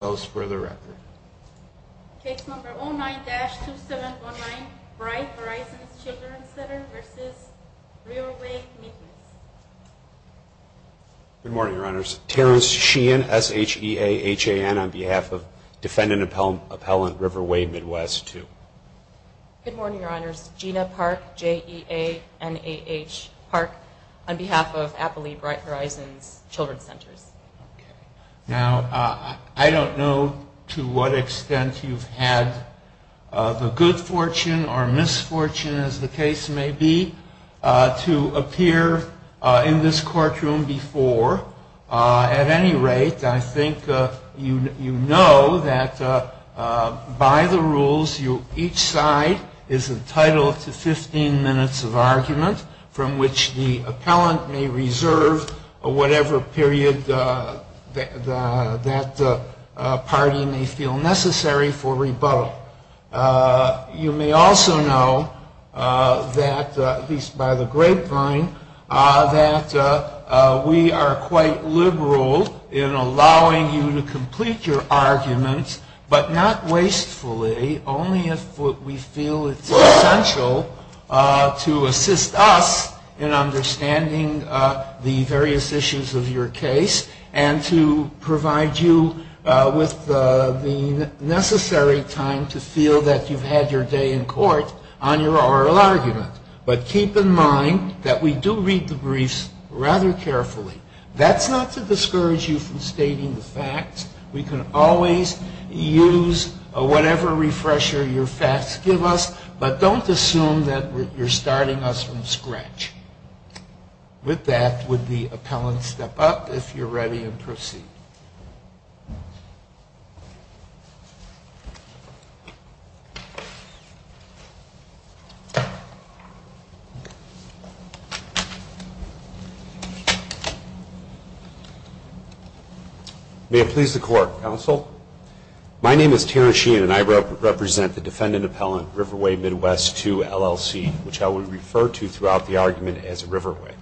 Those for the record. Case number 09-2719, Bright Horizons Children's Center v. Riverway Midwest. Good morning, Your Honors. Terrence Sheehan, S-H-E-A-H-A-N, on behalf of Defendant Appellant Riverway Midwest II. Good morning, Your Honors. Gina Park, J-E-A-N-A-H, Park, on behalf of Appley Bright Horizons Children's Center. Now, I don't know to what extent you've had the good fortune or misfortune, as the case may be, to appear in this courtroom before. At any rate, I think you know that by the rules, each side is entitled to 15 minutes of argument from which the appellant may reserve whatever period that party may feel necessary for rebuttal. You may also know that, at least by the grapevine, that we are quite liberal in allowing you to complete your arguments, but not wastefully, only if we feel it's essential to assist us in understanding the various issues of your case and to provide you with the necessary time to feel that you've had your day in court on your oral argument. But keep in mind that we do read the briefs rather carefully. That's not to discourage you from stating the facts. We can always use whatever refresher your facts give us, but don't assume that you're starting us from scratch. With that, would the appellant step up, if you're ready, and proceed? May it please the Court, Counsel. My name is Terran Sheehan, and I represent the Defendant Appellant, Riverway Midwest II, LLC, which I will refer to throughout the argument as Riverway.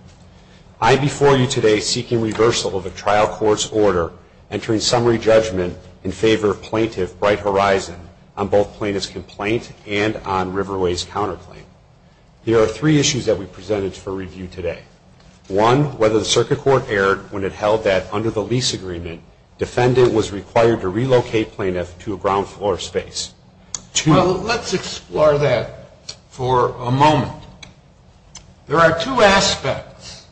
I am before you today seeking reversal of a trial court's order, entering summary judgment in favor of Plaintiff Bright Horizon, on both Plaintiff's complaint and on Riverway's counterclaim. There are three issues that we've presented for review today. One, whether the Circuit Court erred when it held that, under the lease agreement, defendant was required to relocate plaintiff to a ground floor space. Well, let's explore that for a moment. There are two aspects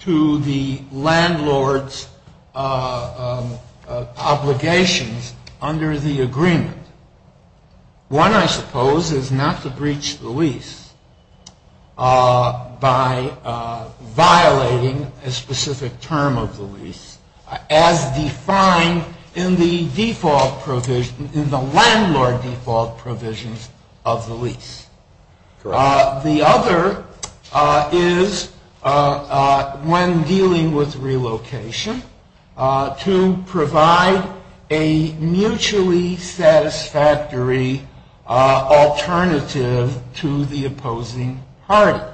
to the landlord's obligations under the agreement. One, I suppose, is not to breach the lease by violating a specific term of the lease, as defined in the landlord default provisions of the lease. The other is, when dealing with relocation, to provide a mutually satisfactory alternative to the opposing party.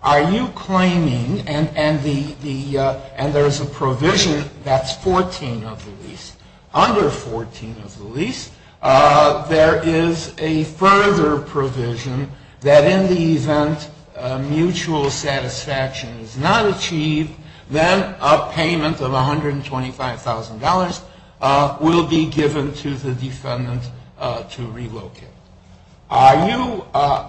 Are you claiming, and there is a provision that's 14 of the lease, under 14 of the lease, there is a further provision that in the event mutual satisfaction is not achieved, then a payment of $125,000 will be given to the defendant to relocate. Are you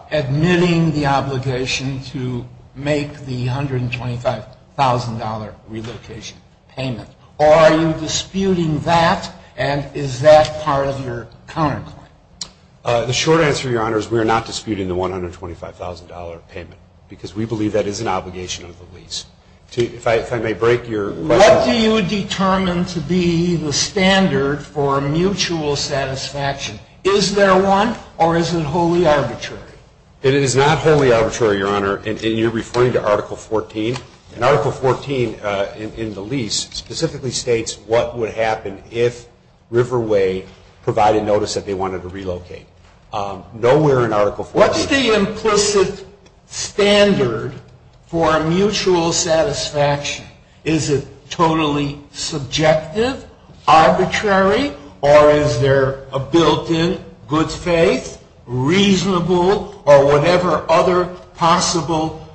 admitting the obligation to make the $125,000 relocation payment, or are you disputing that, and is that part of your counterclaim? The short answer, Your Honor, is we are not disputing the $125,000 payment, because we believe that is an obligation of the lease. If I may break your question. What do you determine to be the standard for mutual satisfaction? Is there one, or is it wholly arbitrary? It is not wholly arbitrary, Your Honor, and you're referring to Article 14. And Article 14 in the lease specifically states what would happen if Riverway provided notice that they wanted to relocate. Nowhere in Article 14. What's the implicit standard for mutual satisfaction? Is it totally subjective, arbitrary, or is there a built-in good faith, reasonable, or whatever other possible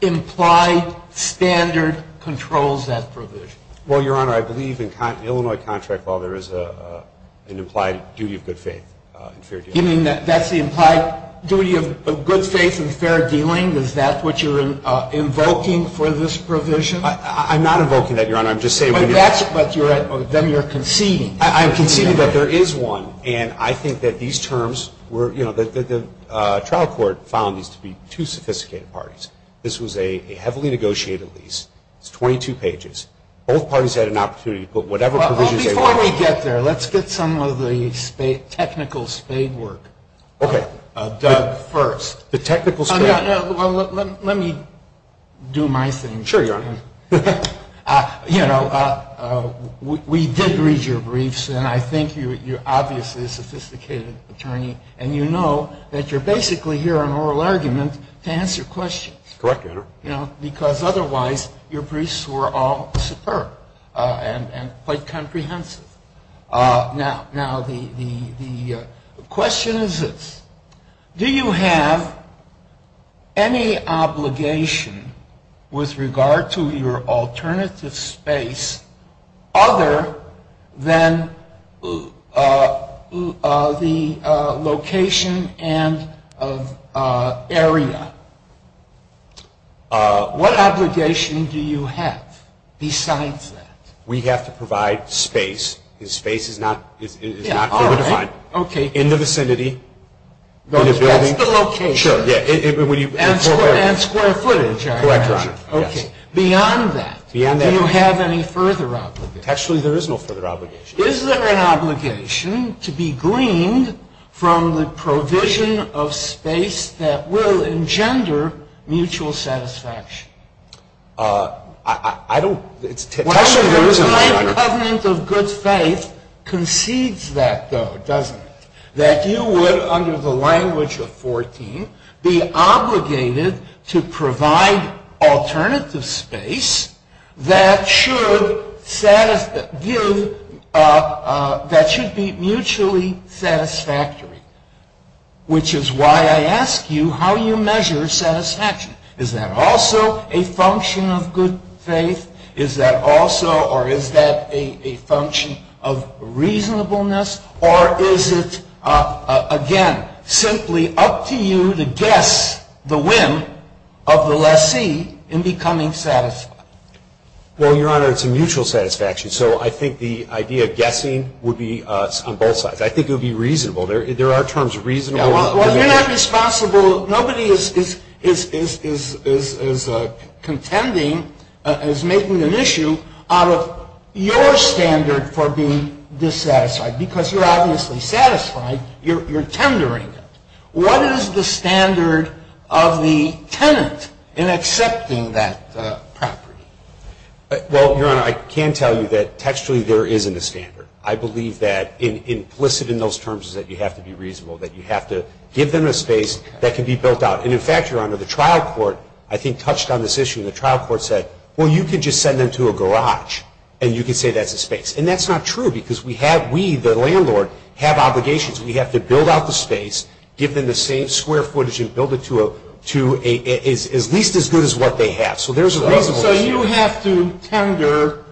implied standard controls that provision? Well, Your Honor, I believe in Illinois contract law there is an implied duty of good faith. You mean that's the implied duty of good faith and fair dealing? Is that what you're invoking for this provision? I'm not invoking that, Your Honor. Then you're conceding. I'm conceding that there is one, and I think that these terms were, you know, the trial court found these to be two sophisticated parties. This was a heavily negotiated lease. It's 22 pages. Both parties had an opportunity to put whatever provisions they wanted. Before we get there, let's get some of the technical spade work. Okay. Doug first. The technical spade work. Well, let me do my thing. Sure, Your Honor. You know, we did read your briefs, and I think you're obviously a sophisticated attorney, and you know that you're basically here on oral argument to answer questions. Correct, Your Honor. You know, because otherwise your briefs were all superb and quite comprehensive. Now, the question is this. Do you have any obligation with regard to your alternative space other than the location and area? What obligation do you have besides that? We have to provide space. Space is not fully defined. Okay. In the vicinity. That's the location. And square footage, I imagine. Correct, Your Honor. Okay. Beyond that, do you have any further obligation? Actually, there is no further obligation. Is there an obligation to be greened from the provision of space that will engender mutual satisfaction? I don't. Well, the United Covenant of Good Faith concedes that, though, doesn't it, that you would, under the language of 14, be obligated to provide alternative space that should give, that should be mutually satisfactory, which is why I ask you how you measure satisfaction. Is that also a function of good faith? Is that also, or is that a function of reasonableness? Or is it, again, simply up to you to guess the whim of the lessee in becoming satisfied? Well, Your Honor, it's a mutual satisfaction. So I think the idea of guessing would be on both sides. I think it would be reasonable. There are terms reasonable. Well, you're not responsible. Nobody is contending, is making an issue out of your standard for being dissatisfied because you're obviously satisfied. You're tendering it. What is the standard of the tenant in accepting that property? Well, Your Honor, I can tell you that textually there isn't a standard. I believe that implicit in those terms is that you have to be reasonable, that you have to give them a space that can be built out. And, in fact, Your Honor, the trial court, I think, touched on this issue. The trial court said, well, you can just send them to a garage and you can say that's a space. And that's not true because we have, we, the landlord, have obligations. We have to build out the space, give them the same square footage and build it to a, at least as good as what they have. So there's a reasonable standard. So you have to tender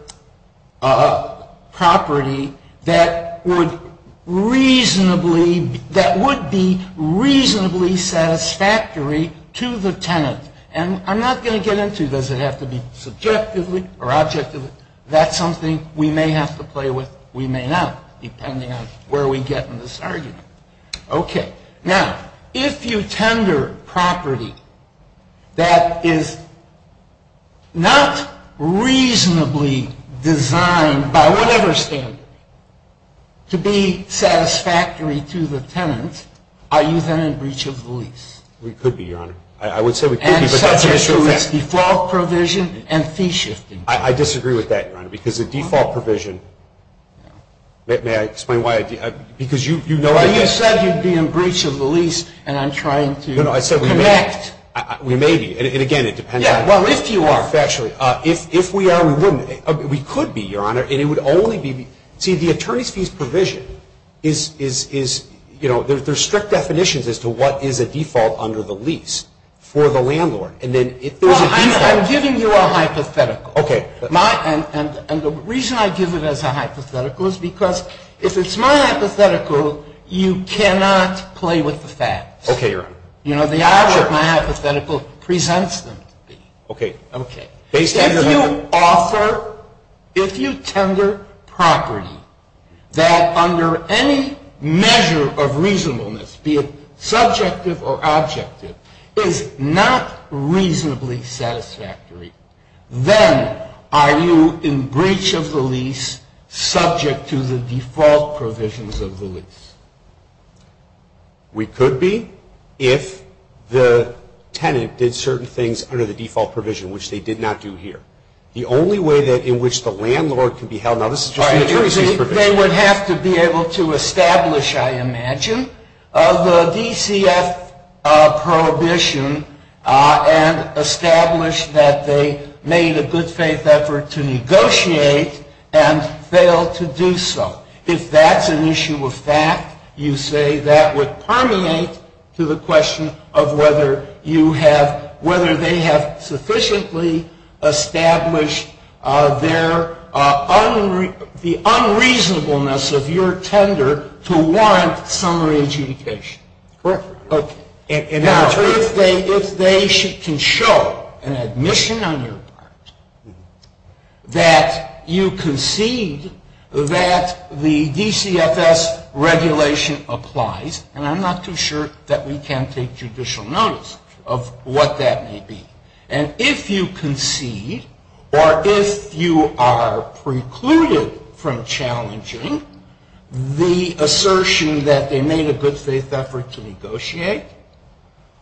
a property that would reasonably, that would be reasonably satisfactory to the tenant. And I'm not going to get into does it have to be subjectively or objectively. That's something we may have to play with. We may not, depending on where we get in this argument. Okay. Now, if you tender property that is not reasonably designed by whatever standard to be satisfactory to the tenant, are you then in breach of the lease? We could be, Your Honor. I would say we could be. And subject to its default provision and fee shifting. I disagree with that, Your Honor, because the default provision, may I explain why? Because you know. You said you'd be in breach of the lease and I'm trying to connect. We may be. And again, it depends on. Well, if you are. Factually. If we are, we wouldn't. We could be, Your Honor. And it would only be. See, the attorney's fees provision is, you know, there's strict definitions as to what is a default under the lease for the landlord. And then if there's a default. I'm giving you a hypothetical. Okay. And the reason I give it as a hypothetical is because if it's my hypothetical, you cannot play with the facts. Okay, Your Honor. You know, the object of my hypothetical presents them to be. Okay. Okay. If you offer, if you tender property that under any measure of reasonableness, be it subjective or objective, is not reasonably satisfactory, then are you in breach of the lease subject to the default provisions of the lease? We could be if the tenant did certain things under the default provision, which they did not do here. The only way in which the landlord can be held. Now, this is just the attorney's fees provision. They would have to be able to establish, I imagine, the DCF prohibition and establish that they made a good faith effort to negotiate and failed to do so. If that's an issue of fact, you say that would permeate to the question of whether you have, whether they have sufficiently established their, the unreasonableness of your tender to warrant summary adjudication. Correct. Okay. Now, if they can show an admission on your part that you concede that the DCFS regulation applies, and I'm not too sure that we can take judicial notice of what that may be, and if you concede or if you are precluded from challenging the assertion that they made a good faith effort to negotiate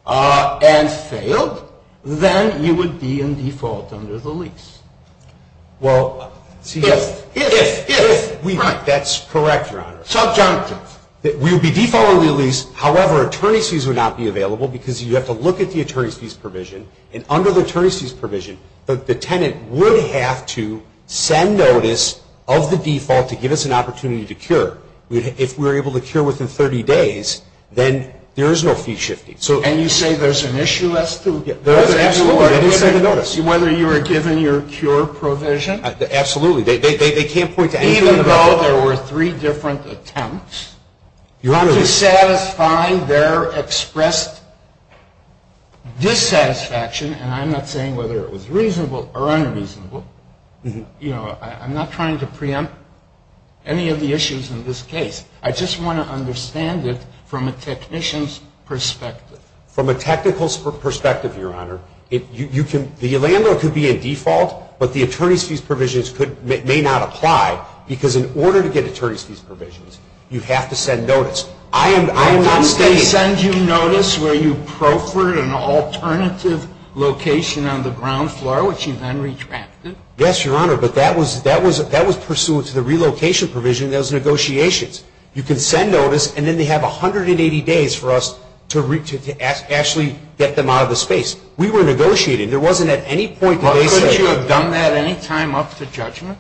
and failed, then you would be in default under the lease. Well, see. If, if, if. That's correct, Your Honor. Subjunctive. We would be defaulting the lease. However, attorney's fees would not be available because you have to look at the attorney's fees provision. And under the attorney's fees provision, the tenant would have to send notice of the default to give us an opportunity to cure. If we're able to cure within 30 days, then there is no fee shifting. And you say there's an issue as to whether you are given your cure provision? Absolutely. They can't point to anything. Even though there were three different attempts to satisfy their expressed dissatisfaction, and I'm not saying whether it was reasonable or unreasonable, you know, I'm not trying to preempt any of the issues in this case. I just want to understand it from a technician's perspective. From a technical perspective, Your Honor, you can, the landlord could be in default, but the attorney's fees provisions could, may not apply, because in order to get attorney's fees provisions, you have to send notice. I am, I am not saying. Didn't they send you notice where you proffered an alternative location on the ground floor, which you then retracted? Yes, Your Honor, but that was pursuant to the relocation provision in those negotiations. You can send notice, and then they have 180 days for us to actually get them out of the space. We were negotiating. There wasn't at any point that they said. Couldn't you have done that any time up to judgment?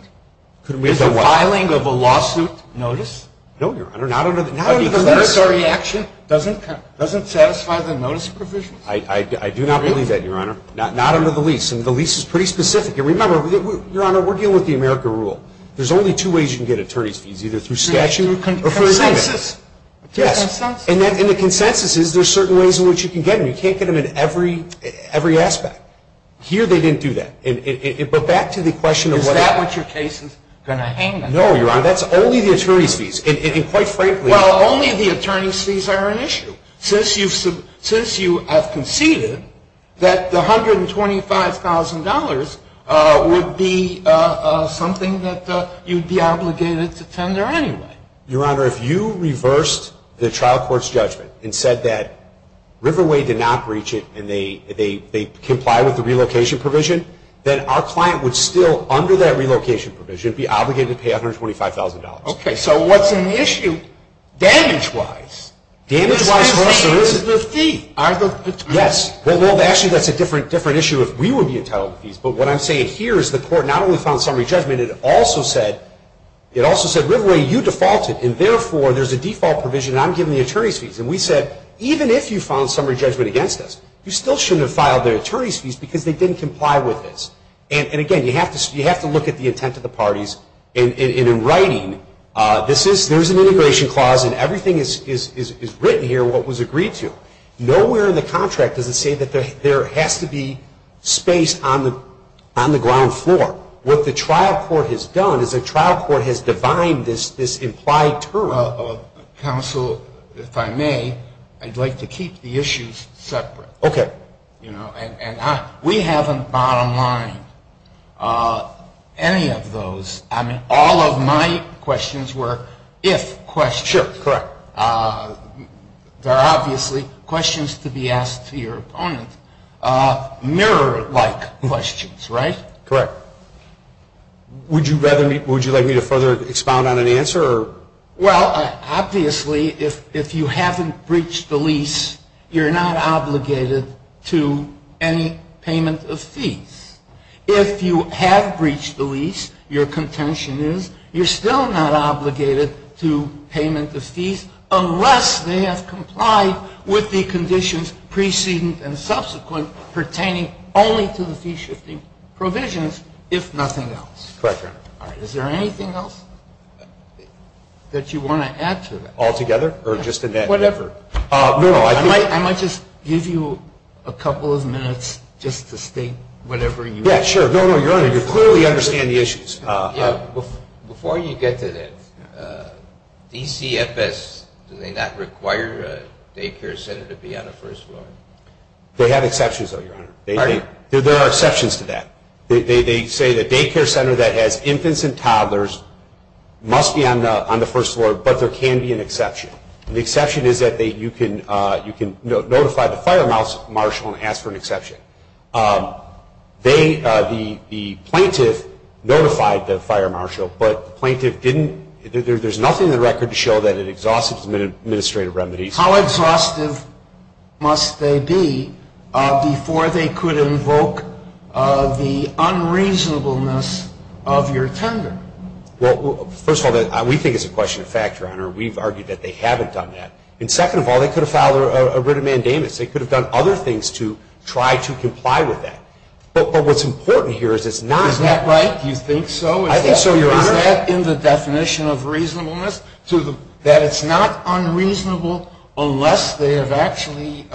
Is the filing of a lawsuit notice? No, Your Honor, not under the lease. But even the reaction doesn't satisfy the notice provisions? I do not believe that, Your Honor. Not under the lease. And the lease is pretty specific. And remember, Your Honor, we're dealing with the America rule. There's only two ways you can get attorney's fees, either through statute or through agreement. Consensus. Yes. Consensus. And the consensus is there's certain ways in which you can get them. You can't get them in every, every aspect. Here they didn't do that. But back to the question of whether. Is that what your case is going to hang on? No, Your Honor, that's only the attorney's fees. And quite frankly. Well, only the attorney's fees are an issue. Since you have conceded that the $125,000 would be something that you'd be obligated to tender anyway. Your Honor, if you reversed the trial court's judgment and said that Riverway did not breach it. And they comply with the relocation provision. Then our client would still, under that relocation provision, be obligated to pay $125,000. Okay, so what's an issue damage wise? What I'm saying is the fee. Yes. Well, actually, that's a different issue if we would be entitled to fees. But what I'm saying here is the court not only found summary judgment. It also said, Riverway, you defaulted. And therefore, there's a default provision. And I'm giving the attorney's fees. And we said, even if you found summary judgment against us. You still shouldn't have filed the attorney's fees because they didn't comply with this. And again, you have to look at the intent of the parties. And in writing, there's an integration clause. And everything is written here what was agreed to. Nowhere in the contract does it say that there has to be space on the ground floor. What the trial court has done is the trial court has defined this implied term. Counsel, if I may, I'd like to keep the issues separate. Okay. And we haven't bottom-lined any of those. I mean, all of my questions were if questions. Sure, correct. There are obviously questions to be asked to your opponent. Mirror-like questions, right? Correct. Would you like me to further expound on an answer? Well, obviously, if you haven't breached the lease, you're not obligated to any payment of fees. If you have breached the lease, your contention is you're still not obligated to payment of fees unless they have complied with the conditions preceding and subsequent pertaining only to the fee-shifting provisions, if nothing else. Correct, Your Honor. Is there anything else that you want to add to that? Altogether or just in that effort? Whatever. No, no. I might just give you a couple of minutes just to state whatever you think. Yeah, sure. No, no, Your Honor. You clearly understand the issues. Before you get to that, DCFS, do they not require a daycare center to be on the first floor? They have exceptions, though, Your Honor. There are exceptions to that. They say the daycare center that has infants and toddlers must be on the first floor, but there can be an exception. The exception is that you can notify the fire marshal and ask for an exception. The plaintiff notified the fire marshal, but the plaintiff didn't. There's nothing in the record to show that it exhausts administrative remedies. How exhaustive must they be before they could invoke the unreasonableness of your tender? Well, first of all, we think it's a question of fact, Your Honor. We've argued that they haven't done that. And second of all, they could have filed a writ of mandamus. They could have done other things to try to comply with that. But what's important here is it's not. Is that right? You think so? I think so, Your Honor. Is that in the definition of reasonableness, that it's not unreasonable unless they have actually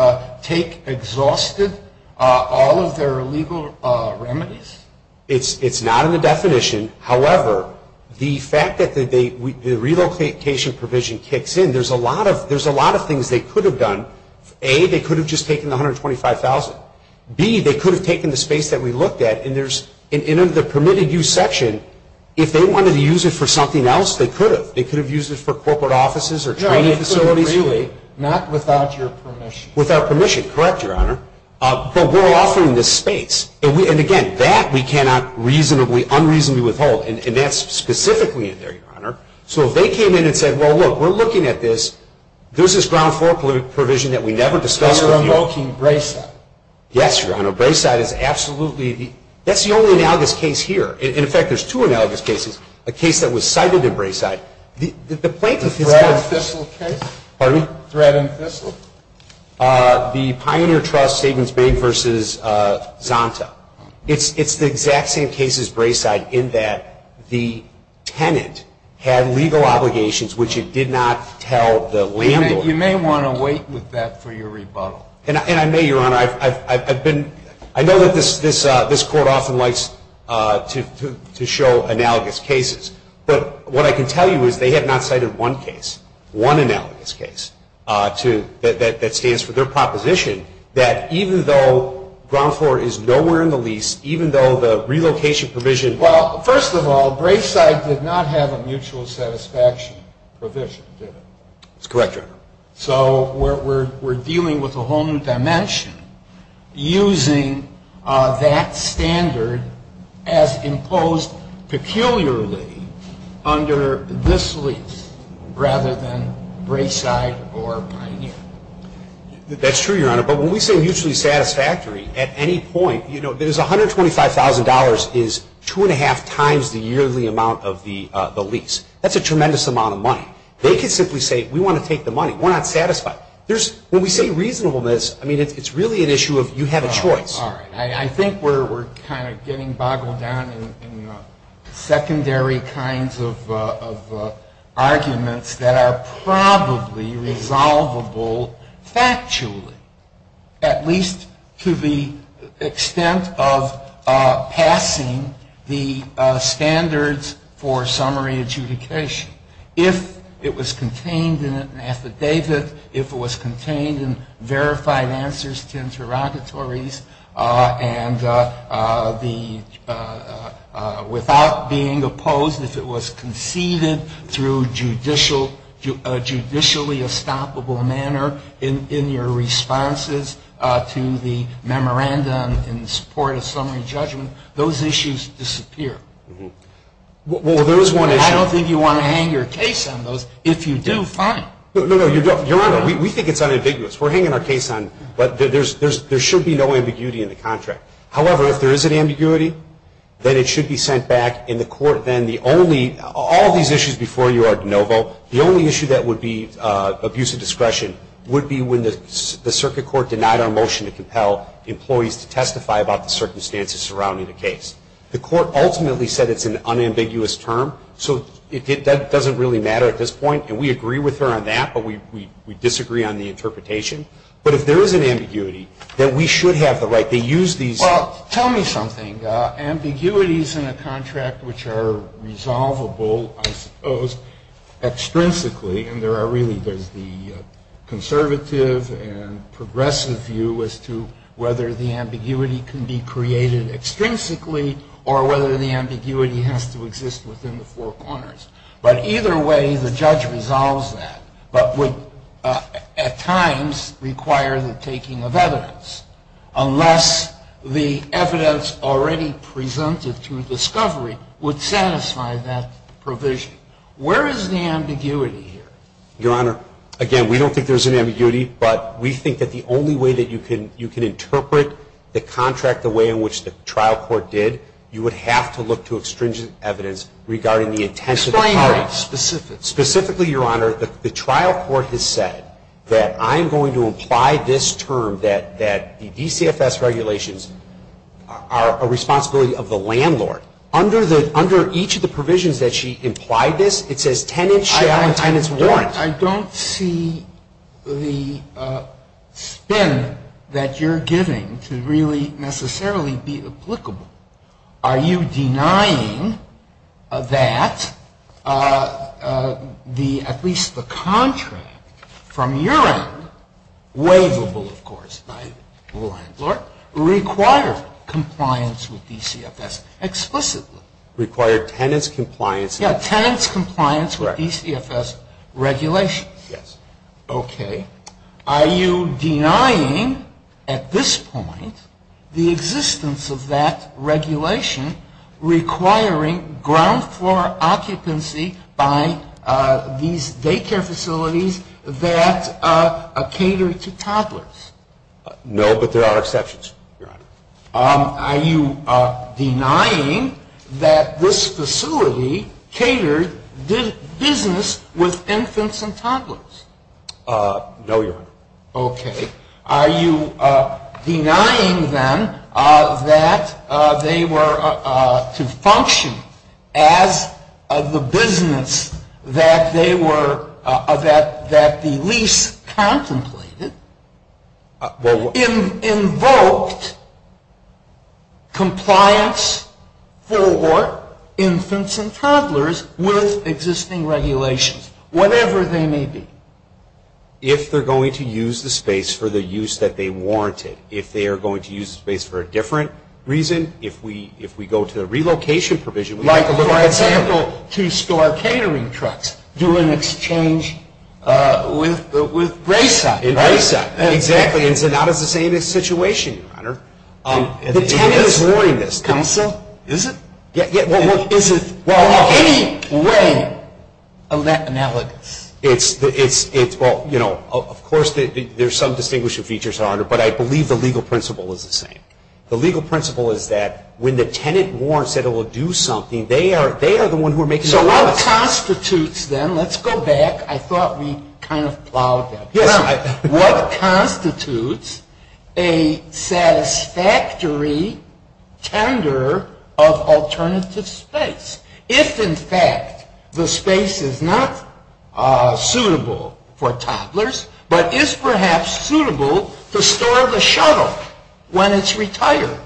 take exhausted all of their legal remedies? It's not in the definition. However, the fact that the relocation provision kicks in, there's a lot of things they could have done. A, they could have just taken the $125,000. B, they could have taken the space that we looked at. And in the permitted use section, if they wanted to use it for something else, they could have. They could have used it for corporate offices or training facilities. Not without your permission. Without permission. Correct, Your Honor. But we're offering this space. And again, that we cannot unreasonably withhold. And that's specifically in there, Your Honor. So if they came in and said, well, look, we're looking at this. There's this ground floor provision that we never discussed with you. They're invoking Brayside. Yes, Your Honor. Brayside is absolutely. That's the only analogous case here. In effect, there's two analogous cases. A case that was cited in Brayside. The plaintiff is. The Thread and Thistle case. Pardon me? Thread and Thistle. The Pioneer Trust Savings Bank versus Zonta. It's the exact same case as Brayside in that the tenant had legal obligations which it did not tell the landlord. You may want to wait with that for your rebuttal. And I may, Your Honor. I've been. I know that this court often likes to show analogous cases. But what I can tell you is they have not cited one case. One analogous case. That stands for their proposition that even though ground floor is nowhere in the lease, even though the relocation provision. Well, first of all, Brayside did not have a mutual satisfaction provision, did it? That's correct, Your Honor. So we're dealing with a whole new dimension using that standard as imposed peculiarly under this lease rather than Brayside or Pioneer. That's true, Your Honor. But when we say mutually satisfactory, at any point, you know, there's $125,000 is two and a half times the yearly amount of the lease. They could simply say we want to take the money. We're not satisfied. When we say reasonableness, I mean, it's really an issue of you have a choice. All right. I think we're kind of getting boggled down in secondary kinds of arguments that are probably resolvable factually. At least to the extent of passing the standards for summary adjudication. If it was contained in an affidavit, if it was contained in verified answers to interrogatories and without being opposed, if it was conceded through a judicially estoppable manner in your responses to the memorandum in support of summary judgment, those issues disappear. Well, there is one issue. I don't think you want to hang your case on those. If you do, fine. No, no, no. Your Honor, we think it's unambiguous. We're hanging our case on, but there should be no ambiguity in the contract. However, if there is an ambiguity, then it should be sent back in the court. Then the only, all of these issues before you are de novo. The only issue that would be abuse of discretion would be when the circuit court denied our motion to compel employees to testify about the circumstances surrounding the case. The court ultimately said it's an unambiguous term, so it doesn't really matter at this point. And we agree with her on that, but we disagree on the interpretation. But if there is an ambiguity, then we should have the right to use these. Well, tell me something. Ambiguities in a contract which are resolvable, I suppose, extrinsically, and there are really, there's the conservative and progressive view as to whether the ambiguity can be created extrinsically or whether the ambiguity has to exist within the four corners. But either way, the judge resolves that, but would at times require the taking of evidence, unless the evidence already presented through discovery would satisfy that provision. Where is the ambiguity here? Your Honor, again, we don't think there's an ambiguity, but we think that the only way that you can interpret the contract the way in which the trial court did, you would have to look to extrinsic evidence regarding the intent of the party. Explain that specifically. Specifically, Your Honor, the trial court has said that I'm going to imply this term, under each of the provisions that she implied this, it says tenants shall and tenants weren't. I don't see the spin that you're giving to really necessarily be applicable. Are you denying that the, at least the contract from your end, waivable, of course, by law and order, require compliance with DCFS explicitly? Require tenants' compliance. Yeah, tenants' compliance with DCFS regulations. Yes. Okay. Are you denying, at this point, the existence of that regulation requiring ground floor occupancy by these daycare facilities that cater to toddlers? No, but there are exceptions, Your Honor. Are you denying that this facility catered business with infants and toddlers? No, Your Honor. Okay. Are you denying, then, that they were to function as the business that they were, that the lease contemplated invoked compliance for infants and toddlers with existing regulations, whatever they may be? If they're going to use the space for the use that they warranted, if they are going to use the space for a different reason, if we go to a relocation provision. Like, for example, to store catering trucks, do an exchange with Grayside. In Grayside. It's not the same situation, Your Honor. The tenant is warning this. Counsel? Is it? Is it in any way analogous? It's, well, you know, of course there's some distinguishing features, Your Honor, but I believe the legal principle is the same. The legal principle is that when the tenant warrants that it will do something, they are the one who are making the laws. So what constitutes, then, let's go back. I thought we kind of plowed that. Yes. What constitutes a satisfactory tender of alternative space? If, in fact, the space is not suitable for toddlers, but is perhaps suitable to store the shuttle when it's retired.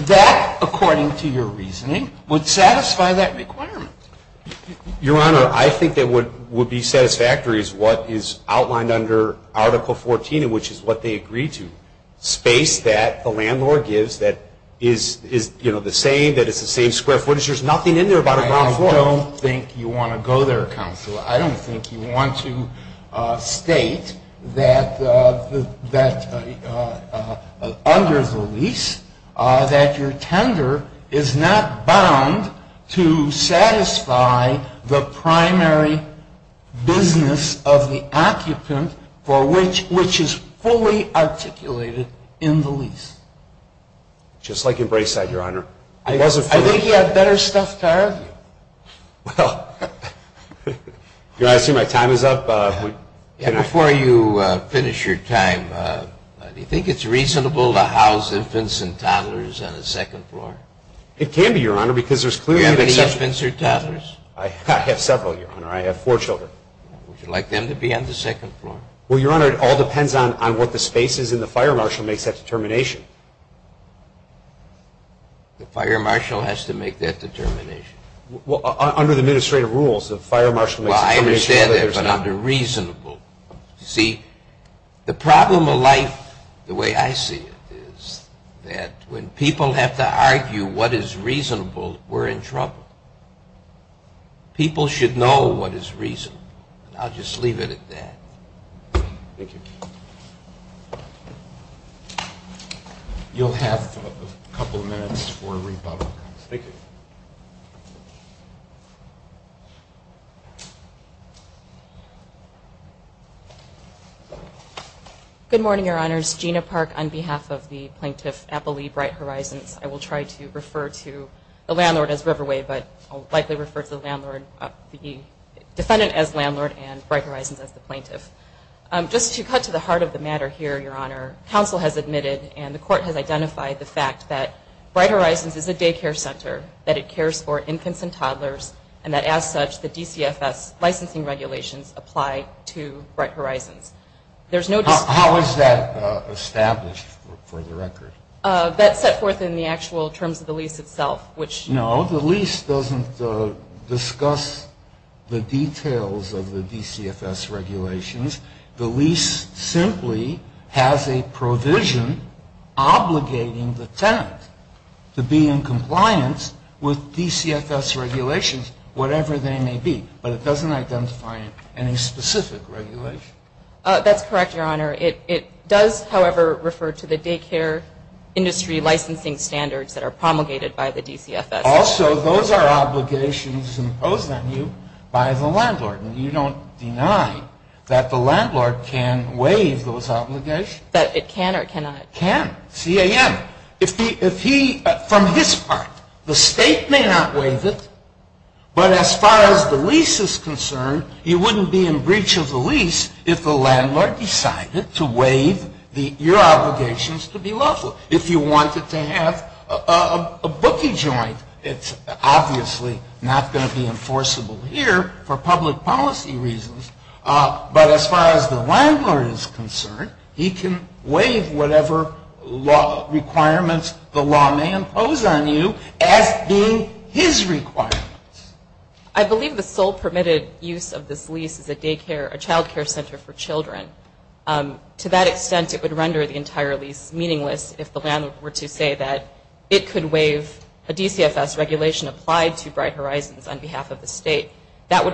That, according to your reasoning, would satisfy that requirement. Your Honor, I think that what would be satisfactory is what is outlined under Article 14, which is what they agreed to. Space that the landlord gives that is, you know, the same, that it's the same square footage. There's nothing in there about a ground floor. I don't think you want to go there, Counsel. I don't think you want to state that under the lease that your tender is not bound to satisfy the primary business of the occupant for which is fully articulated in the lease. Just like in Brayside, Your Honor. I think you have better stuff to argue. Well, you're asking my time is up. Before you finish your time, do you think it's reasonable to house infants and toddlers on the second floor? It can be, Your Honor, because there's clearly an exception. Do you have any infants or toddlers? I have several, Your Honor. I have four children. Would you like them to be on the second floor? Well, Your Honor, it all depends on what the space is, and the fire marshal makes that determination. The fire marshal has to make that determination? Well, under the administrative rules, the fire marshal makes the determination. Well, I understand that, but not the reasonable. You see, the problem of life, the way I see it, is that when people have to argue what is reasonable, we're in trouble. People should know what is reasonable. I'll just leave it at that. Thank you. You'll have a couple of minutes for rebuttal. Thank you. Good morning, Your Honors. Gina Park, on behalf of the plaintiff at the Lee Bright Horizons. I will try to refer to the landlord as Riverway, but I'll likely refer to the defendant as landlord and Bright Horizons as the plaintiff. Just to cut to the heart of the matter here, Your Honor, counsel has admitted and the court has identified the fact that Bright Horizons is a daycare center, that it cares for infants and toddlers, and that as such, the DCFS licensing regulations apply to Bright Horizons. How is that established for the record? That's set forth in the actual terms of the lease itself, which- The lease simply has a provision obligating the tenant to be in compliance with DCFS regulations, whatever they may be, but it doesn't identify any specific regulation. That's correct, Your Honor. It does, however, refer to the daycare industry licensing standards that are promulgated by the DCFS. Also, those are obligations imposed on you by the landlord. You don't deny that the landlord can waive those obligations. That it can or cannot? It can. C.A.M. From his part, the state may not waive it, but as far as the lease is concerned, you wouldn't be in breach of the lease if the landlord decided to waive your obligations to be lawful. If you wanted to have a bookie joint, it's obviously not going to be enforceable here for public policy reasons, but as far as the landlord is concerned, he can waive whatever requirements the law may impose on you as being his requirements. I believe the sole permitted use of this lease is a daycare, a child care center for children. To that extent, it would render the entire lease meaningless if the landlord were to say that it could waive a DCFS regulation applied to Bright Horizons on behalf of the state. That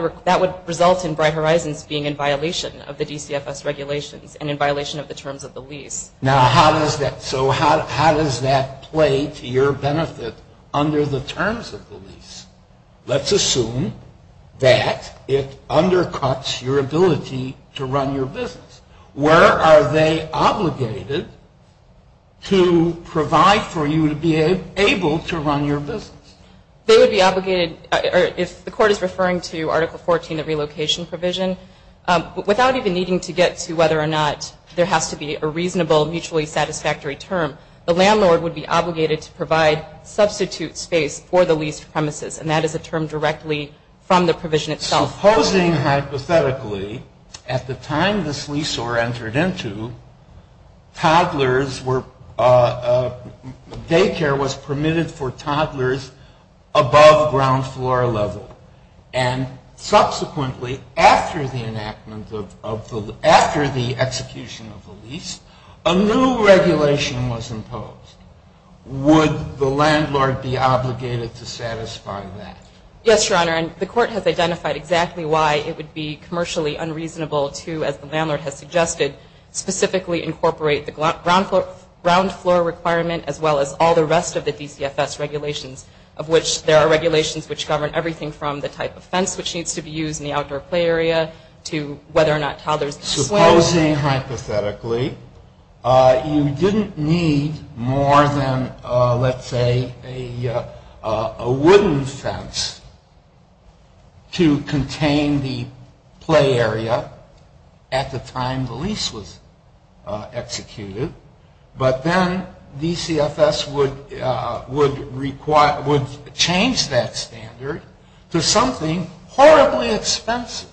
would result in Bright Horizons being in violation of the DCFS regulations and in violation of the terms of the lease. Now, how does that play to your benefit under the terms of the lease? Let's assume that it undercuts your ability to run your business. Where are they obligated to provide for you to be able to run your business? They would be obligated, if the court is referring to Article 14, the relocation provision, without even needing to get to whether or not there has to be a reasonable, mutually satisfactory term, the landlord would be obligated to provide substitute space for the leased premises, and that is a term directly from the provision itself. Supposing, hypothetically, at the time this lease or entered into, toddlers were, daycare was permitted for toddlers above ground floor level, and subsequently, after the enactment of, after the execution of the lease, a new regulation was imposed. Would the landlord be obligated to satisfy that? Yes, Your Honor, and the court has identified exactly why it would be commercially unreasonable to, as the landlord has suggested, specifically incorporate the ground floor requirement, as well as all the rest of the DCFS regulations, of which there are regulations which govern everything from the type of fence which needs to be used in the outdoor play area to whether or not toddlers Supposing, hypothetically, you didn't need more than, let's say, a wooden fence to contain the play area at the time the lease was executed, but then DCFS would change that standard to something horribly expensive.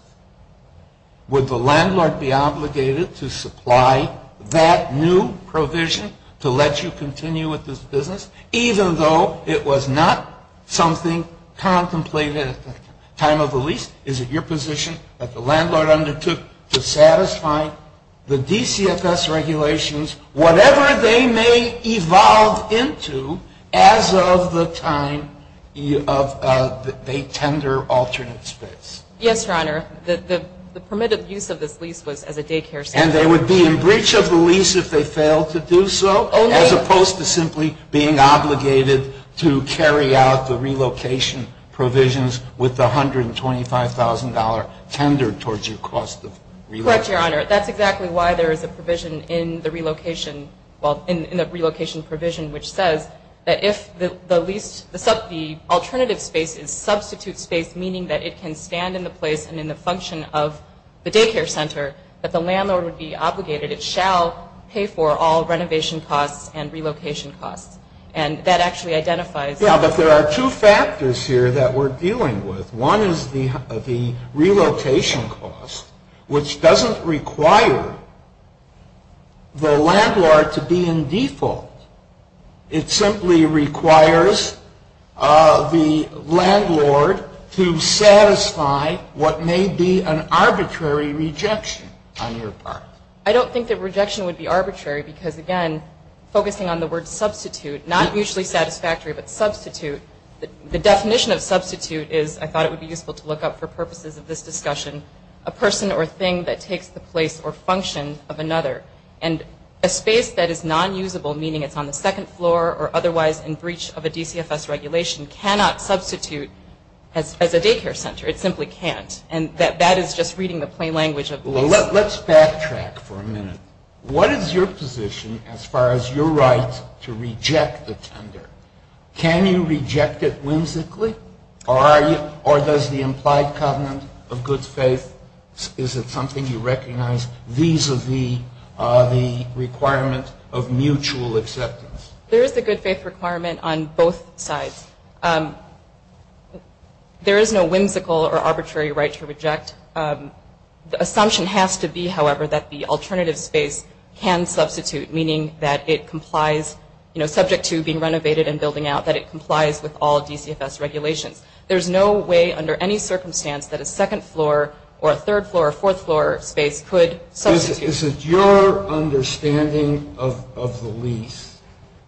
Would the landlord be obligated to supply that new provision to let you continue with this business, even though it was not something contemplated at the time of the lease? Is it your position that the landlord undertook to satisfy the DCFS regulations, whatever they may evolve into, as of the time they tender alternate space? Yes, Your Honor. The permitted use of this lease was as a daycare space. And they would be in breach of the lease if they failed to do so, as opposed to simply being obligated to carry out the relocation provisions with the $125,000 tendered towards your cost of relocation? Correct, Your Honor. That's exactly why there is a provision in the relocation provision which says that if the alternative space is substitute space, meaning that it can stand in the place and in the function of the daycare center, that the landlord would be obligated, it shall pay for all renovation costs and relocation costs. And that actually identifies... Yeah, but there are two factors here that we're dealing with. One is the relocation cost, which doesn't require the landlord to be in default. It simply requires the landlord to satisfy what may be an arbitrary rejection on your part. I don't think that rejection would be arbitrary because, again, focusing on the word substitute, not mutually satisfactory, but substitute, the definition of substitute is, I thought it would be useful to look up for purposes of this discussion, a person or thing that takes the place or function of another. And a space that is non-usable, meaning it's on the second floor or otherwise in breach of a DCFS regulation, cannot substitute as a daycare center. It simply can't. And that is just reading the plain language of the law. Let's backtrack for a minute. What is your position as far as your right to reject the tender? Can you reject it whimsically, or does the implied covenant of good faith, is it something you recognize vis-a-vis the requirement of mutual acceptance? There is a good faith requirement on both sides. There is no whimsical or arbitrary right to reject. The assumption has to be, however, that the alternative space can substitute, meaning that it complies, you know, subject to being renovated and building out, that it complies with all DCFS regulations. There's no way under any circumstance that a second floor or a third floor or fourth floor space could substitute. Is it your understanding of the lease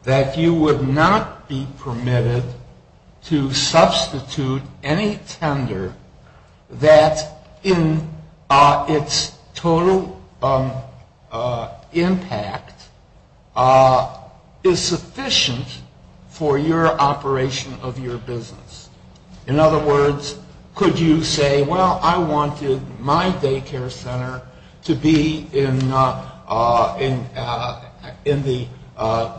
that you would not be permitted to substitute any tender that in its total impact is sufficient for your operation of your business? In other words, could you say, well, I wanted my daycare center to be in the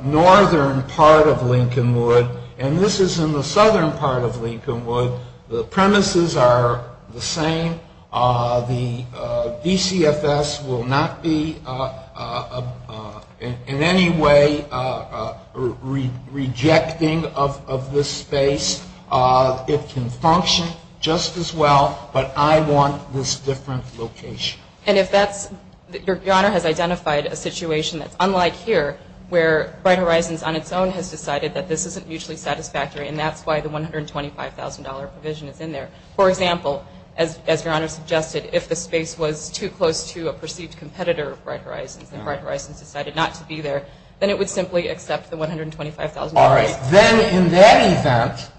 northern part of Lincolnwood, and this is in the southern part of Lincolnwood. The premises are the same. The DCFS will not be in any way rejecting of this space. It can function just as well, but I want this different location. And if that's – your Honor has identified a situation that's unlike here, where Bright Horizons on its own has decided that this isn't mutually satisfactory, and that's why the $125,000 provision is in there. For example, as your Honor suggested, if the space was too close to a perceived competitor of Bright Horizons and Bright Horizons decided not to be there, then it would simply accept the $125,000. All right. Then in that event,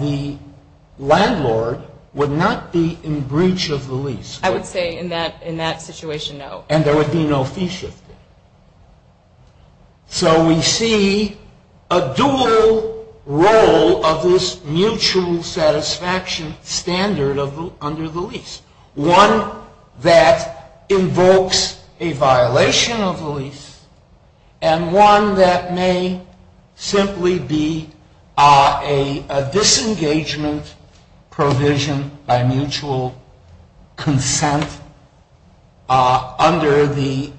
the landlord would not be in breach of the lease. I would say in that situation, no. And there would be no fee shifting. So we see a dual role of this mutual satisfaction standard under the lease, one that invokes a violation of the lease and one that may simply be a disengagement provision by mutual consent under the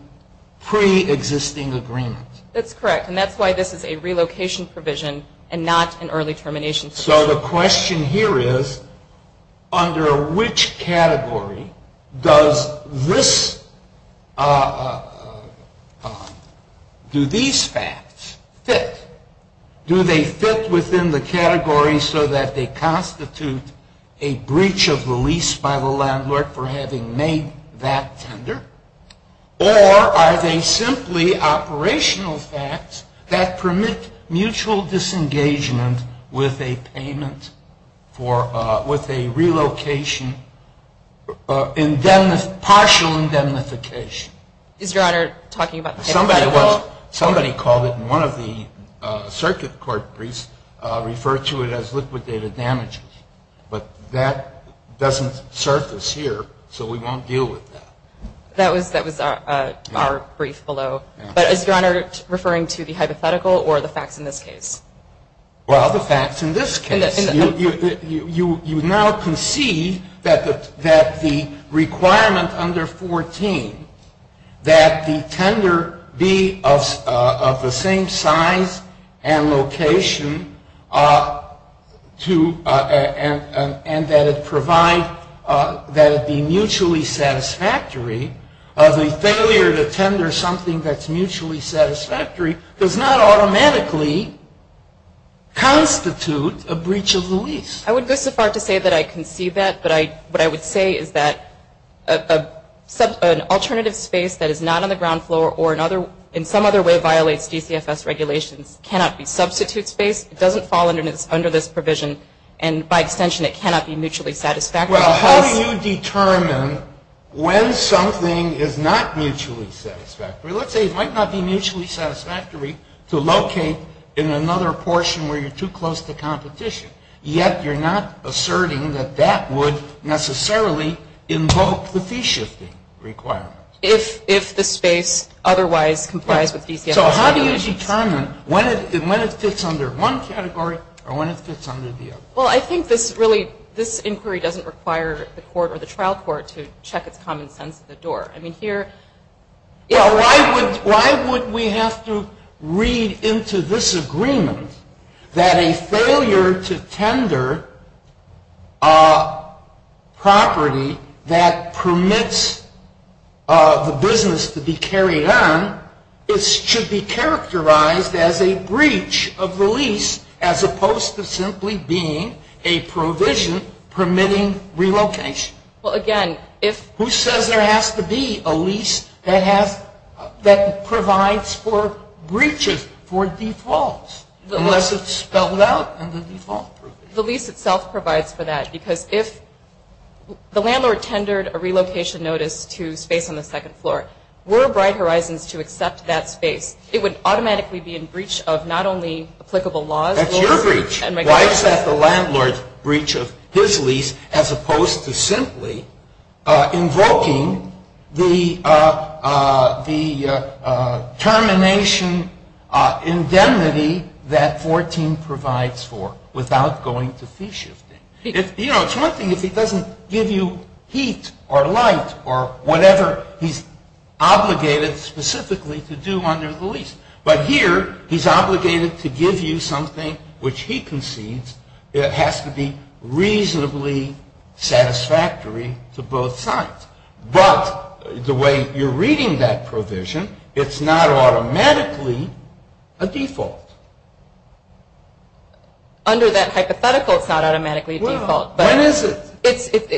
pre-existing agreement. That's correct. And that's why this is a relocation provision and not an early termination provision. So the question here is, under which category does this – do these facts fit? Do they fit within the category so that they constitute a breach of the lease by the landlord for having made that tender? Or are they simply operational facts that permit mutual disengagement with a payment for – with a relocation, partial indemnification? Is your Honor talking about the – Somebody called it, and one of the circuit court briefs referred to it as liquidated damages. But that doesn't surface here, so we won't deal with that. That was our brief below. But is your Honor referring to the hypothetical or the facts in this case? Well, the facts in this case. You now concede that the requirement under 14, that the tender be of the same size and location and that it provide – that it be mutually satisfactory. The failure to tender something that's mutually satisfactory does not automatically constitute a breach of the lease. I would go so far to say that I can see that. But what I would say is that an alternative space that is not on the ground floor or in some other way violates DCFS regulations cannot be substitute space. It doesn't fall under this provision. And by extension, it cannot be mutually satisfactory. Well, how do you determine when something is not mutually satisfactory? Well, let's say it might not be mutually satisfactory to locate in another portion where you're too close to competition. Yet you're not asserting that that would necessarily invoke the fee-shifting requirement. If the space otherwise complies with DCFS regulations. So how do you determine when it fits under one category or when it fits under the other? Well, I think this really – this inquiry doesn't require the court or the trial court to check its common sense at the door. I mean, here – Well, why would we have to read into this agreement that a failure to tender a property that permits the business to be carried on should be characterized as a breach of the lease as opposed to simply being a provision permitting relocation? Well, again, if – It would be a lease that has – that provides for breaches for defaults unless it's spelled out in the default provision. The lease itself provides for that because if the landlord tendered a relocation notice to space on the second floor, were Bright Horizons to accept that space, it would automatically be in breach of not only applicable laws – That's your breach. Why is that the landlord's breach of his lease as opposed to simply invoking the termination indemnity that 14 provides for without going to fee shifting? You know, it's one thing if he doesn't give you heat or light or whatever he's obligated specifically to do under the lease. But here, he's obligated to give you something which he concedes has to be reasonably satisfactory to both sides. But the way you're reading that provision, it's not automatically a default. Under that hypothetical, it's not automatically a default. Well, when is it?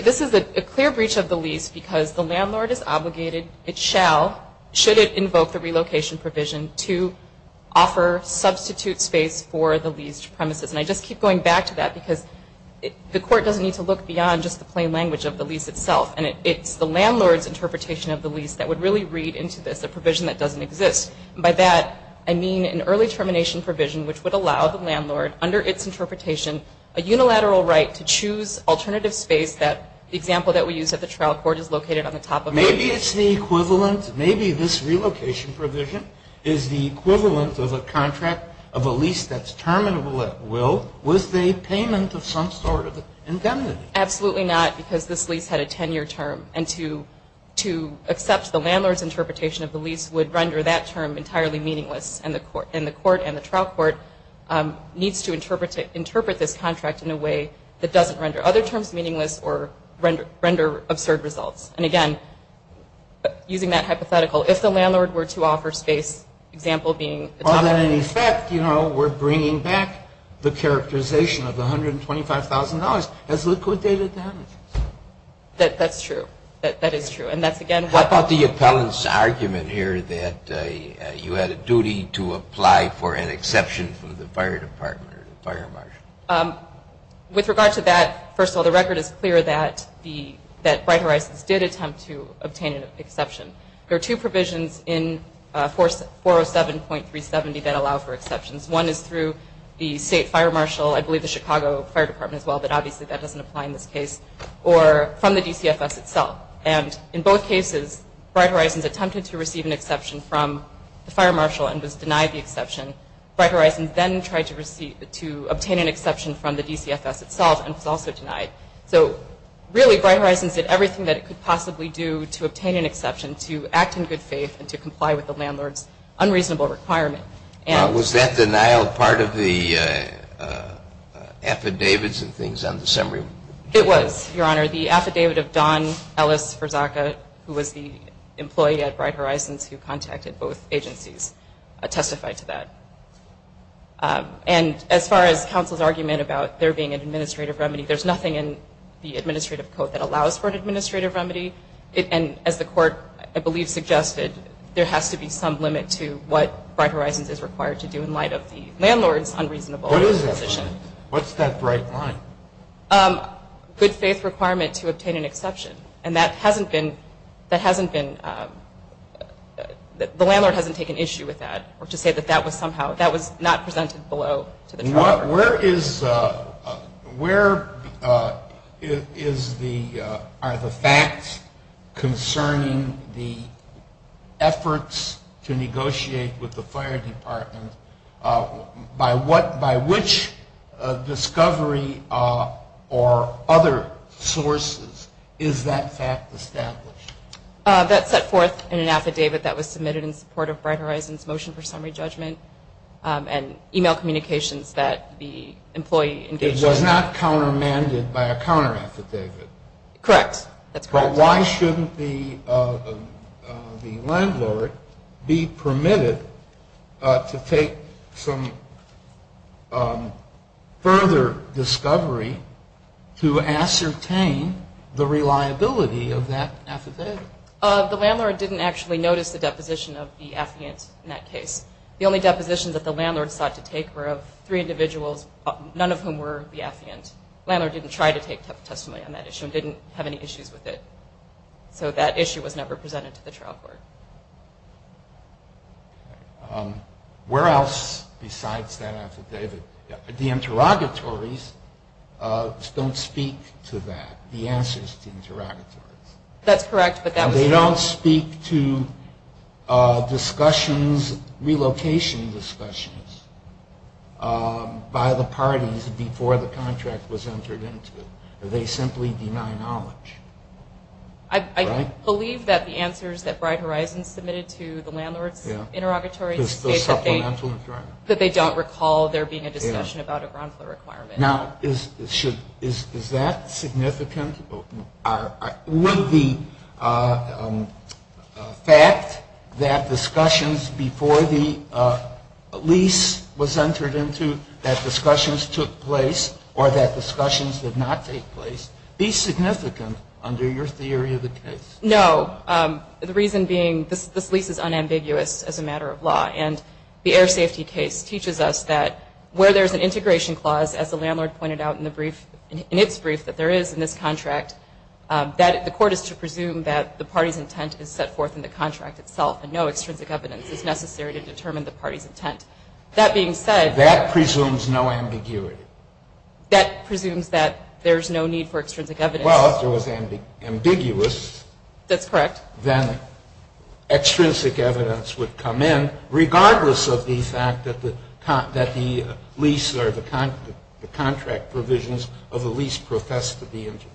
This is a clear breach of the lease because the landlord is obligated, it shall, should it invoke the relocation provision to offer substitute space for the leased premises. And I just keep going back to that because the court doesn't need to look beyond just the plain language of the lease itself. And it's the landlord's interpretation of the lease that would really read into this, a provision that doesn't exist. And by that, I mean an early termination provision which would allow the landlord, under its interpretation, a unilateral right to choose alternative space. The example that we use at the trial court is located on the top of it. Maybe it's the equivalent, maybe this relocation provision is the equivalent of a contract of a lease that's terminable at will with a payment of some sort of indemnity. Absolutely not because this lease had a 10-year term. And to accept the landlord's interpretation of the lease would render that term entirely meaningless. And the court and the trial court needs to interpret this contract in a way that doesn't render other terms meaningless or render absurd results. And, again, using that hypothetical, if the landlord were to offer space, example being the top of it. Well, then, in effect, you know, we're bringing back the characterization of $125,000 as liquidated damages. That's true. That is true. And that's, again, what the – What about the appellant's argument here that you had a duty to apply for an exception from the fire department or the fire marshal? With regard to that, first of all, the record is clear that Bright Horizons did attempt to obtain an exception. There are two provisions in 407.370 that allow for exceptions. One is through the state fire marshal, I believe the Chicago Fire Department as well, but obviously that doesn't apply in this case, or from the DCFS itself. And in both cases, Bright Horizons attempted to receive an exception from the fire marshal and was denied the exception. Bright Horizons then tried to obtain an exception from the DCFS itself and was also denied. So, really, Bright Horizons did everything that it could possibly do to obtain an exception, to act in good faith, and to comply with the landlord's unreasonable requirement. Was that denial part of the affidavits and things on December? It was, Your Honor. The affidavit of Don Ellis Verzaca, who was the employee at Bright Horizons who contacted both agencies, testified to that. And as far as counsel's argument about there being an administrative remedy, there's nothing in the administrative code that allows for an administrative remedy. And as the Court, I believe, suggested, there has to be some limit to what Bright Horizons is required to do in light of the landlord's unreasonable position. What is that limit? What's that bright line? Good faith requirement to obtain an exception. And that hasn't been, that hasn't been, the landlord hasn't taken issue with that, or to say that that was somehow, that was not presented below to the tribe. Where is, where is the, are the facts concerning the efforts to negotiate with the fire department? By what, by which discovery or other sources is that fact established? That's set forth in an affidavit that was submitted in support of Bright Horizons' motion for summary judgment and email communications that the employee engaged in. It was not countermanded by a counter affidavit. Correct. That's correct. Now, why shouldn't the landlord be permitted to take some further discovery to ascertain the reliability of that affidavit? The landlord didn't actually notice the deposition of the affiant in that case. The only depositions that the landlord sought to take were of three individuals, none of whom were the affiant. The landlord didn't try to take testimony on that issue and didn't have any issues with it. So that issue was never presented to the trial court. Where else besides that affidavit? The interrogatories don't speak to that, the answers to interrogatories. That's correct. They don't speak to discussions, relocation discussions by the parties before the contract was entered into. They simply deny knowledge. I believe that the answers that Bright Horizons submitted to the landlord's interrogatory state that they don't recall there being a discussion about a ground floor requirement. Now, is that significant? Would the fact that discussions before the lease was entered into, that discussions took place or that discussions did not take place, be significant under your theory of the case? No. The reason being this lease is unambiguous as a matter of law. And the air safety case teaches us that where there's an integration clause, as the landlord pointed out in the brief, in its brief, that there is in this contract, that the court is to presume that the party's intent is set forth in the contract itself and no extrinsic evidence is necessary to determine the party's intent. That being said. That presumes no ambiguity. That presumes that there's no need for extrinsic evidence. Well, if it was ambiguous. That's correct. Then extrinsic evidence would come in, regardless of the fact that the lease or the contract provisions of the lease profess to be integrated.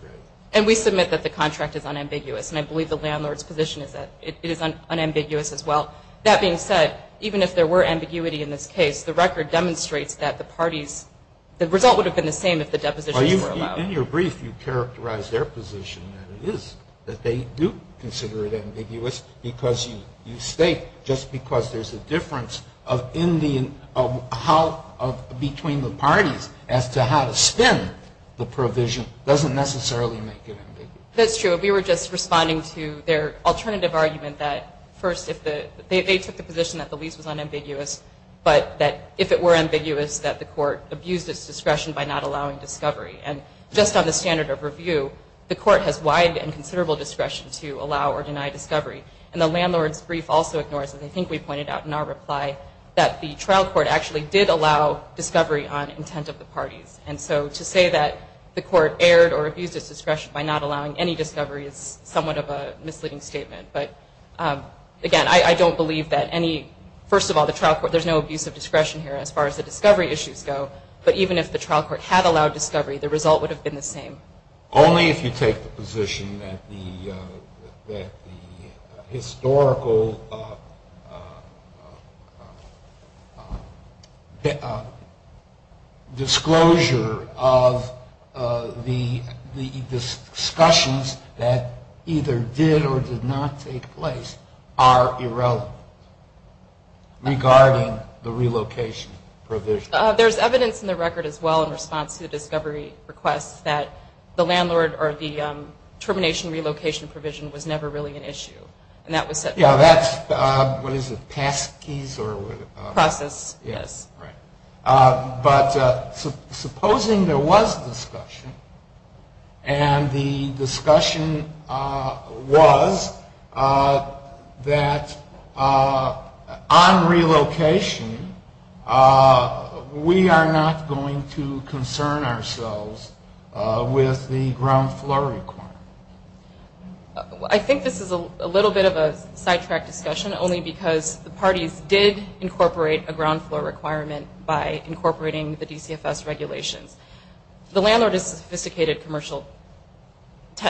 And we submit that the contract is unambiguous. And I believe the landlord's position is that it is unambiguous as well. That being said, even if there were ambiguity in this case, the record demonstrates that the parties, the result would have been the same if the depositions were allowed. Well, in your brief, you characterized their position that it is, that they do consider it ambiguous because you state, just because there's a difference between the parties as to how to spend the provision, doesn't necessarily make it ambiguous. That's true. We were just responding to their alternative argument that, first, they took the position that the lease was unambiguous, but that if it were ambiguous, that the court abused its discretion by not allowing discovery. And just on the standard of review, the court has wide and considerable discretion to allow or deny discovery. And the landlord's brief also ignores, as I think we pointed out in our reply, that the trial court actually did allow discovery on intent of the parties. And so to say that the court erred or abused its discretion by not allowing any discovery is somewhat of a misleading statement. But, again, I don't believe that any, first of all, the trial court, there's no abuse of discretion here as far as the discovery issues go. But even if the trial court had allowed discovery, the result would have been the same. Only if you take the position that the historical disclosure of the discussions that either did or did not take place are irrelevant regarding the relocation provision. There's evidence in the record as well in response to the discovery request that the landlord or the termination relocation provision was never really an issue. And that was said. Yeah, that's, what is it, past case or what? Process, yes. Right. But supposing there was discussion and the discussion was that on relocation we are not going to concern ourselves with the ground floor requirement. I think this is a little bit of a sidetrack discussion only because the parties did incorporate a ground floor requirement. The landlord is a sophisticated commercial,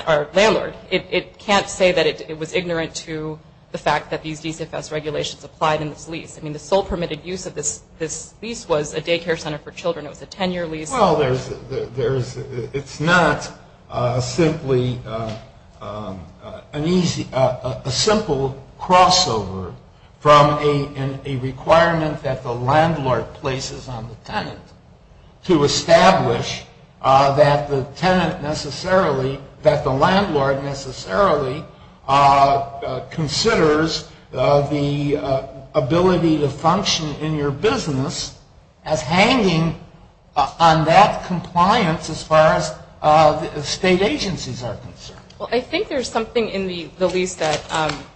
or landlord. It can't say that it was ignorant to the fact that these DCFS regulations applied in this lease. I mean, the sole permitted use of this lease was a daycare center for children. It was a 10-year lease. Well, there's, it's not simply an easy, a simple crossover from a requirement that the landlord places on the tenant to establish that the tenant necessarily, that the landlord necessarily considers the ability to function in your business as hanging on that compliance as far as state agencies are concerned. Well, I think there's something in the lease that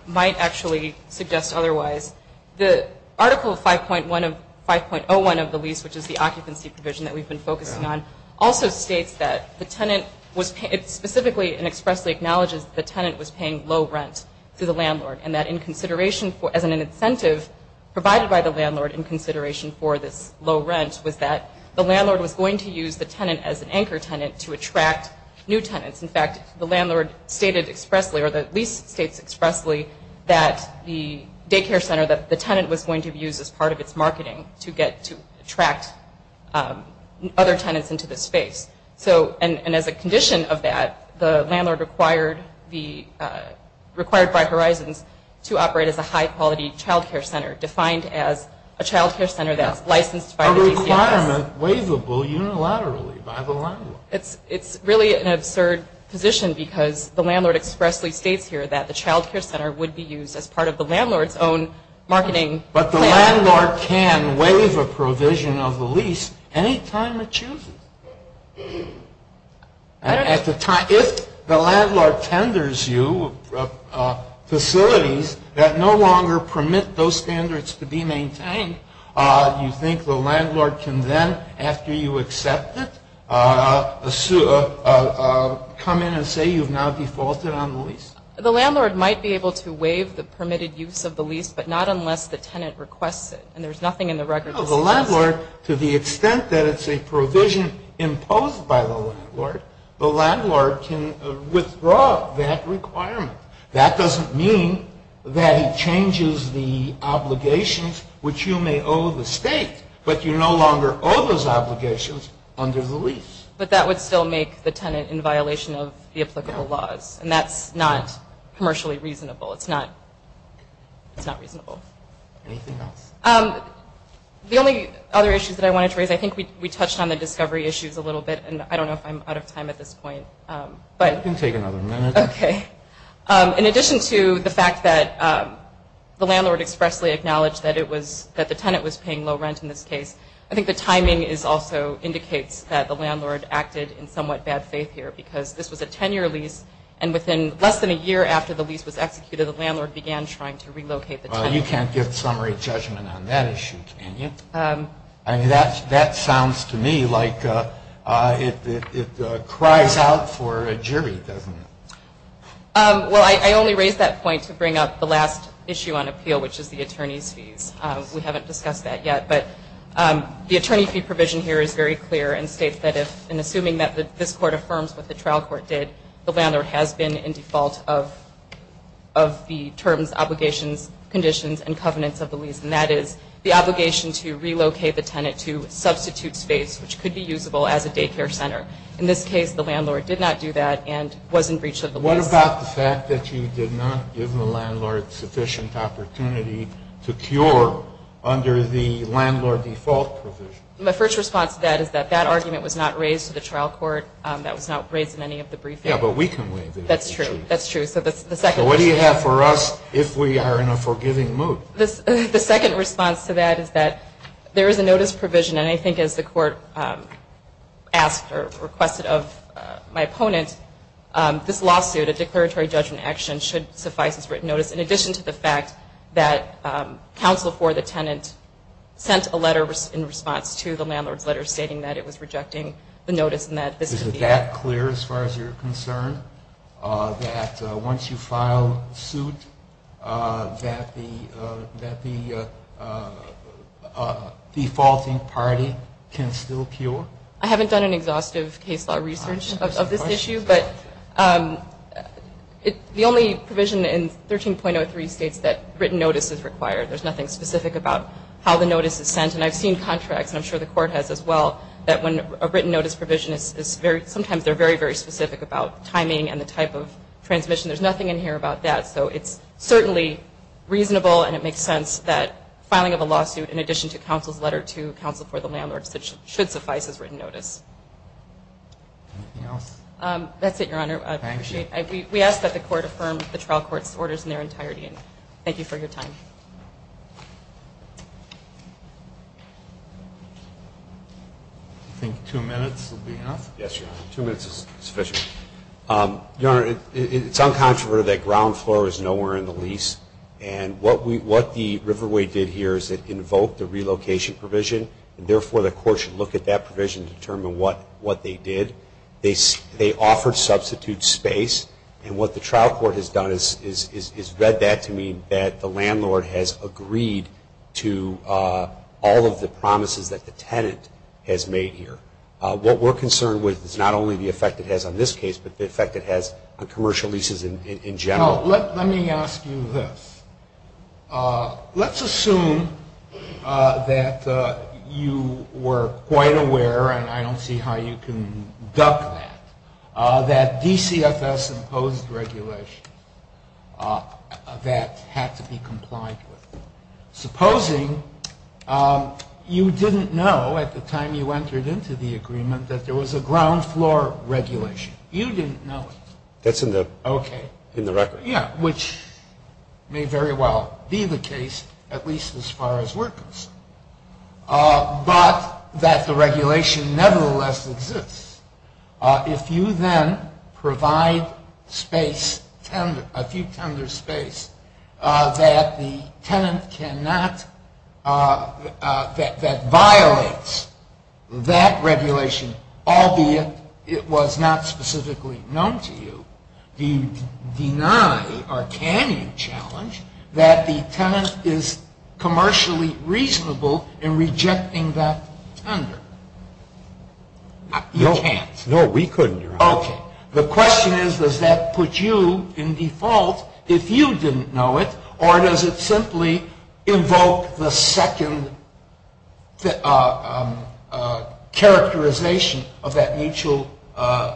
might actually suggest otherwise. The article 5.1 of, 5.01 of the lease, which is the occupancy provision that we've been focusing on, also states that the tenant was, it specifically and expressly acknowledges the tenant was paying low rent to the landlord and that in consideration for, as an incentive provided by the landlord in consideration for this low rent was that the landlord was going to use the tenant as an anchor tenant to attract new tenants. In fact, the landlord stated expressly, or the lease states expressly, that the daycare center, that the tenant was going to be used as part of its marketing to get, to attract other tenants into the space. So, and as a condition of that, the landlord required the, required Bright Horizons to operate as a high-quality child care center defined as a child care center that's licensed by the DCFS. A requirement waivable unilaterally by the landlord. It's, it's really an absurd position because the landlord expressly states here that the child care center would be used as part of the landlord's own marketing plan. But the landlord can waive a provision of the lease any time it chooses. At the time, if the landlord tenders you facilities that no longer permit those standards to be maintained, you think the landlord can then, after you accept it, come in and say you've now defaulted on the lease? The landlord might be able to waive the permitted use of the lease, but not unless the tenant requests it. And there's nothing in the record that suggests that. No, the landlord, to the extent that it's a provision imposed by the landlord, the landlord can withdraw that requirement. That doesn't mean that it changes the obligations which you may owe the state, but you no longer owe those obligations under the lease. But that would still make the tenant in violation of the applicable laws, and that's not commercially reasonable. It's not, it's not reasonable. Anything else? The only other issues that I wanted to raise, I think we touched on the discovery issues a little bit, and I don't know if I'm out of time at this point. You can take another minute. Okay. In addition to the fact that the landlord expressly acknowledged that it was, that the tenant was paying low rent in this case, I think the timing also indicates that the landlord acted in somewhat bad faith here, because this was a 10-year lease, and within less than a year after the lease was executed, the landlord began trying to relocate the tenant. Well, you can't give summary judgment on that issue, can you? I mean, that sounds to me like it cries out for a jury, doesn't it? Well, I only raised that point to bring up the last issue on appeal, which is the attorney's fees. We haven't discussed that yet, but the attorney fee provision here is very clear and states that if, in assuming that this court affirms what the trial court did, the landlord has been in default of the terms, obligations, conditions, and covenants of the lease, and that is the obligation to relocate the tenant to substitute space, which could be usable as a daycare center. In this case, the landlord did not do that and was in breach of the lease. What about the fact that you did not give the landlord sufficient opportunity to cure under the landlord default provision? My first response to that is that that argument was not raised to the trial court. That was not raised in any of the briefings. Yeah, but we can waive it. That's true. That's true. So that's the second. So what do you have for us if we are in a forgiving mood? The second response to that is that there is a notice provision, and I think as the court asked or requested of my opponent, this lawsuit, a declaratory judgment action, should suffice as written notice, in addition to the fact that counsel for the tenant sent a letter in response to the landlord's letter stating that it was rejecting the notice and that this could be added. Is that clear as far as you're concerned, that once you file suit, that the defaulting party can still cure? I haven't done an exhaustive case law research of this issue, but the only provision in 13.03 states that written notice is required. There's nothing specific about how the notice is sent. And I've seen contracts, and I'm sure the court has as well, that when a written notice provision is very, sometimes they're very, very specific about timing and the type of transmission. There's nothing in here about that. So it's certainly reasonable, and it makes sense that filing of a lawsuit, in addition to counsel's letter to counsel for the landlord should suffice as written notice. Anything else? That's it, Your Honor. Thank you. We ask that the court affirm the trial court's orders in their entirety. Thank you for your time. I think two minutes will be enough. Yes, Your Honor. Two minutes is sufficient. Your Honor, it's uncontroverted that ground floor is nowhere in the lease. And what the Riverway did here is it invoked the relocation provision, and therefore the court should look at that provision to determine what they did. They offered substitute space. And what the trial court has done is read that to mean that the landlord has agreed to all of the promises that the tenant has made here. What we're concerned with is not only the effect it has on this case, but the effect it has on commercial leases in general. Let me ask you this. Let's assume that you were quite aware, and I don't see how you can duck that, that DCFS imposed regulations that had to be complied with. Supposing you didn't know at the time you entered into the agreement that there was a ground floor regulation. You didn't know it. That's in the record. Yeah, which may very well be the case, at least as far as we're concerned. But that the regulation nevertheless exists. If you then provide space, a few tender space, that the tenant cannot, that violates that regulation, albeit it was not specifically known to you, do you deny or can you challenge that the tenant is commercially reasonable in rejecting that tender? You can't. No, we couldn't, Your Honor. Okay. The question is, does that put you in default if you didn't know it, or does it simply invoke the second characterization of that mutual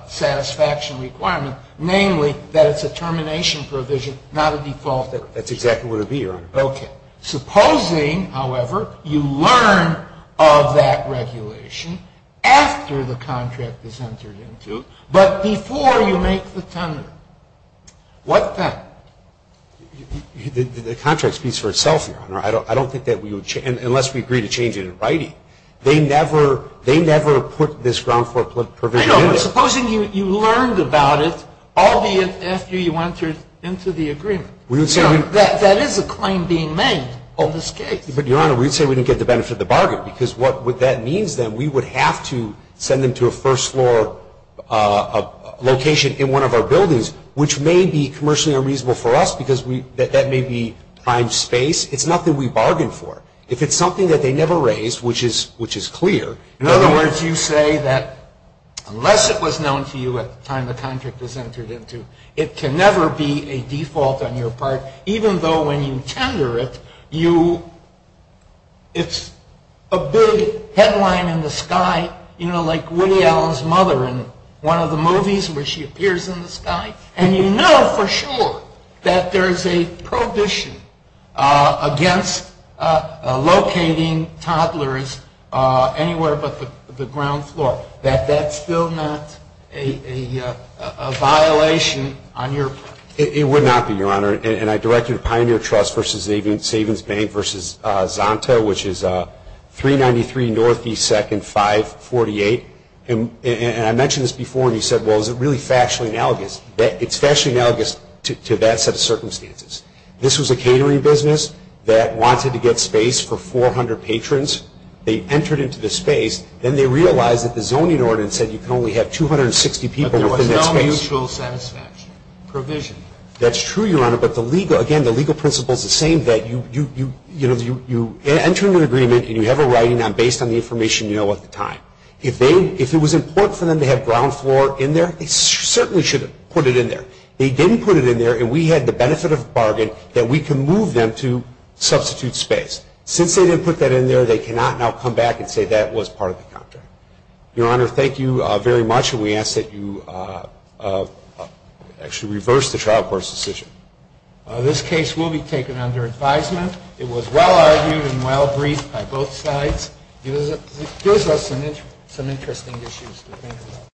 satisfaction requirement, namely that it's a termination provision, not a default provision. That's exactly what it would be, Your Honor. Okay. Supposing, however, you learn of that regulation after the contract is entered into, but before you make the tender. What then? The contract speaks for itself, Your Honor. I don't think that we would change it, unless we agree to change it in writing. They never put this ground floor provision in. I know, but supposing you learned about it, albeit after you entered into the agreement. That is a claim being made on this case. But, Your Honor, we'd say we didn't get the benefit of the bargain, because what that means, then, we would have to send them to a first floor location in one of our buildings, which may be commercially unreasonable for us, because that may be primed space. It's nothing we bargained for. If it's something that they never raised, which is clear. In other words, you say that unless it was known to you at the time the tender it, it's a big headline in the sky, you know, like Woody Allen's mother in one of the movies, where she appears in the sky, and you know for sure that there is a prohibition against locating toddlers anywhere but the ground floor, that that's still not a violation on your part. It would not be, Your Honor. And I direct you to Pioneer Trust versus Savings Bank versus Zonta, which is 393 Northeast 2nd 548. And I mentioned this before, and you said, well, is it really factually analogous? It's factually analogous to that set of circumstances. This was a catering business that wanted to get space for 400 patrons. They entered into the space. people within that space. No mutual satisfaction. Provision. That's true, Your Honor. But the legal, again, the legal principle is the same, that you, you know, you enter into an agreement and you have a writing based on the information you know at the time. If they, if it was important for them to have ground floor in there, they certainly should have put it in there. They didn't put it in there, and we had the benefit of a bargain that we can move them to substitute space. Since they didn't put that in there, they cannot now come back and say that was part of the contract. Your Honor, thank you very much, and we ask that you actually reverse the trial court's decision. This case will be taken under advisement. It was well-argued and well-briefed by both sides. It gives us some interesting issues to think about.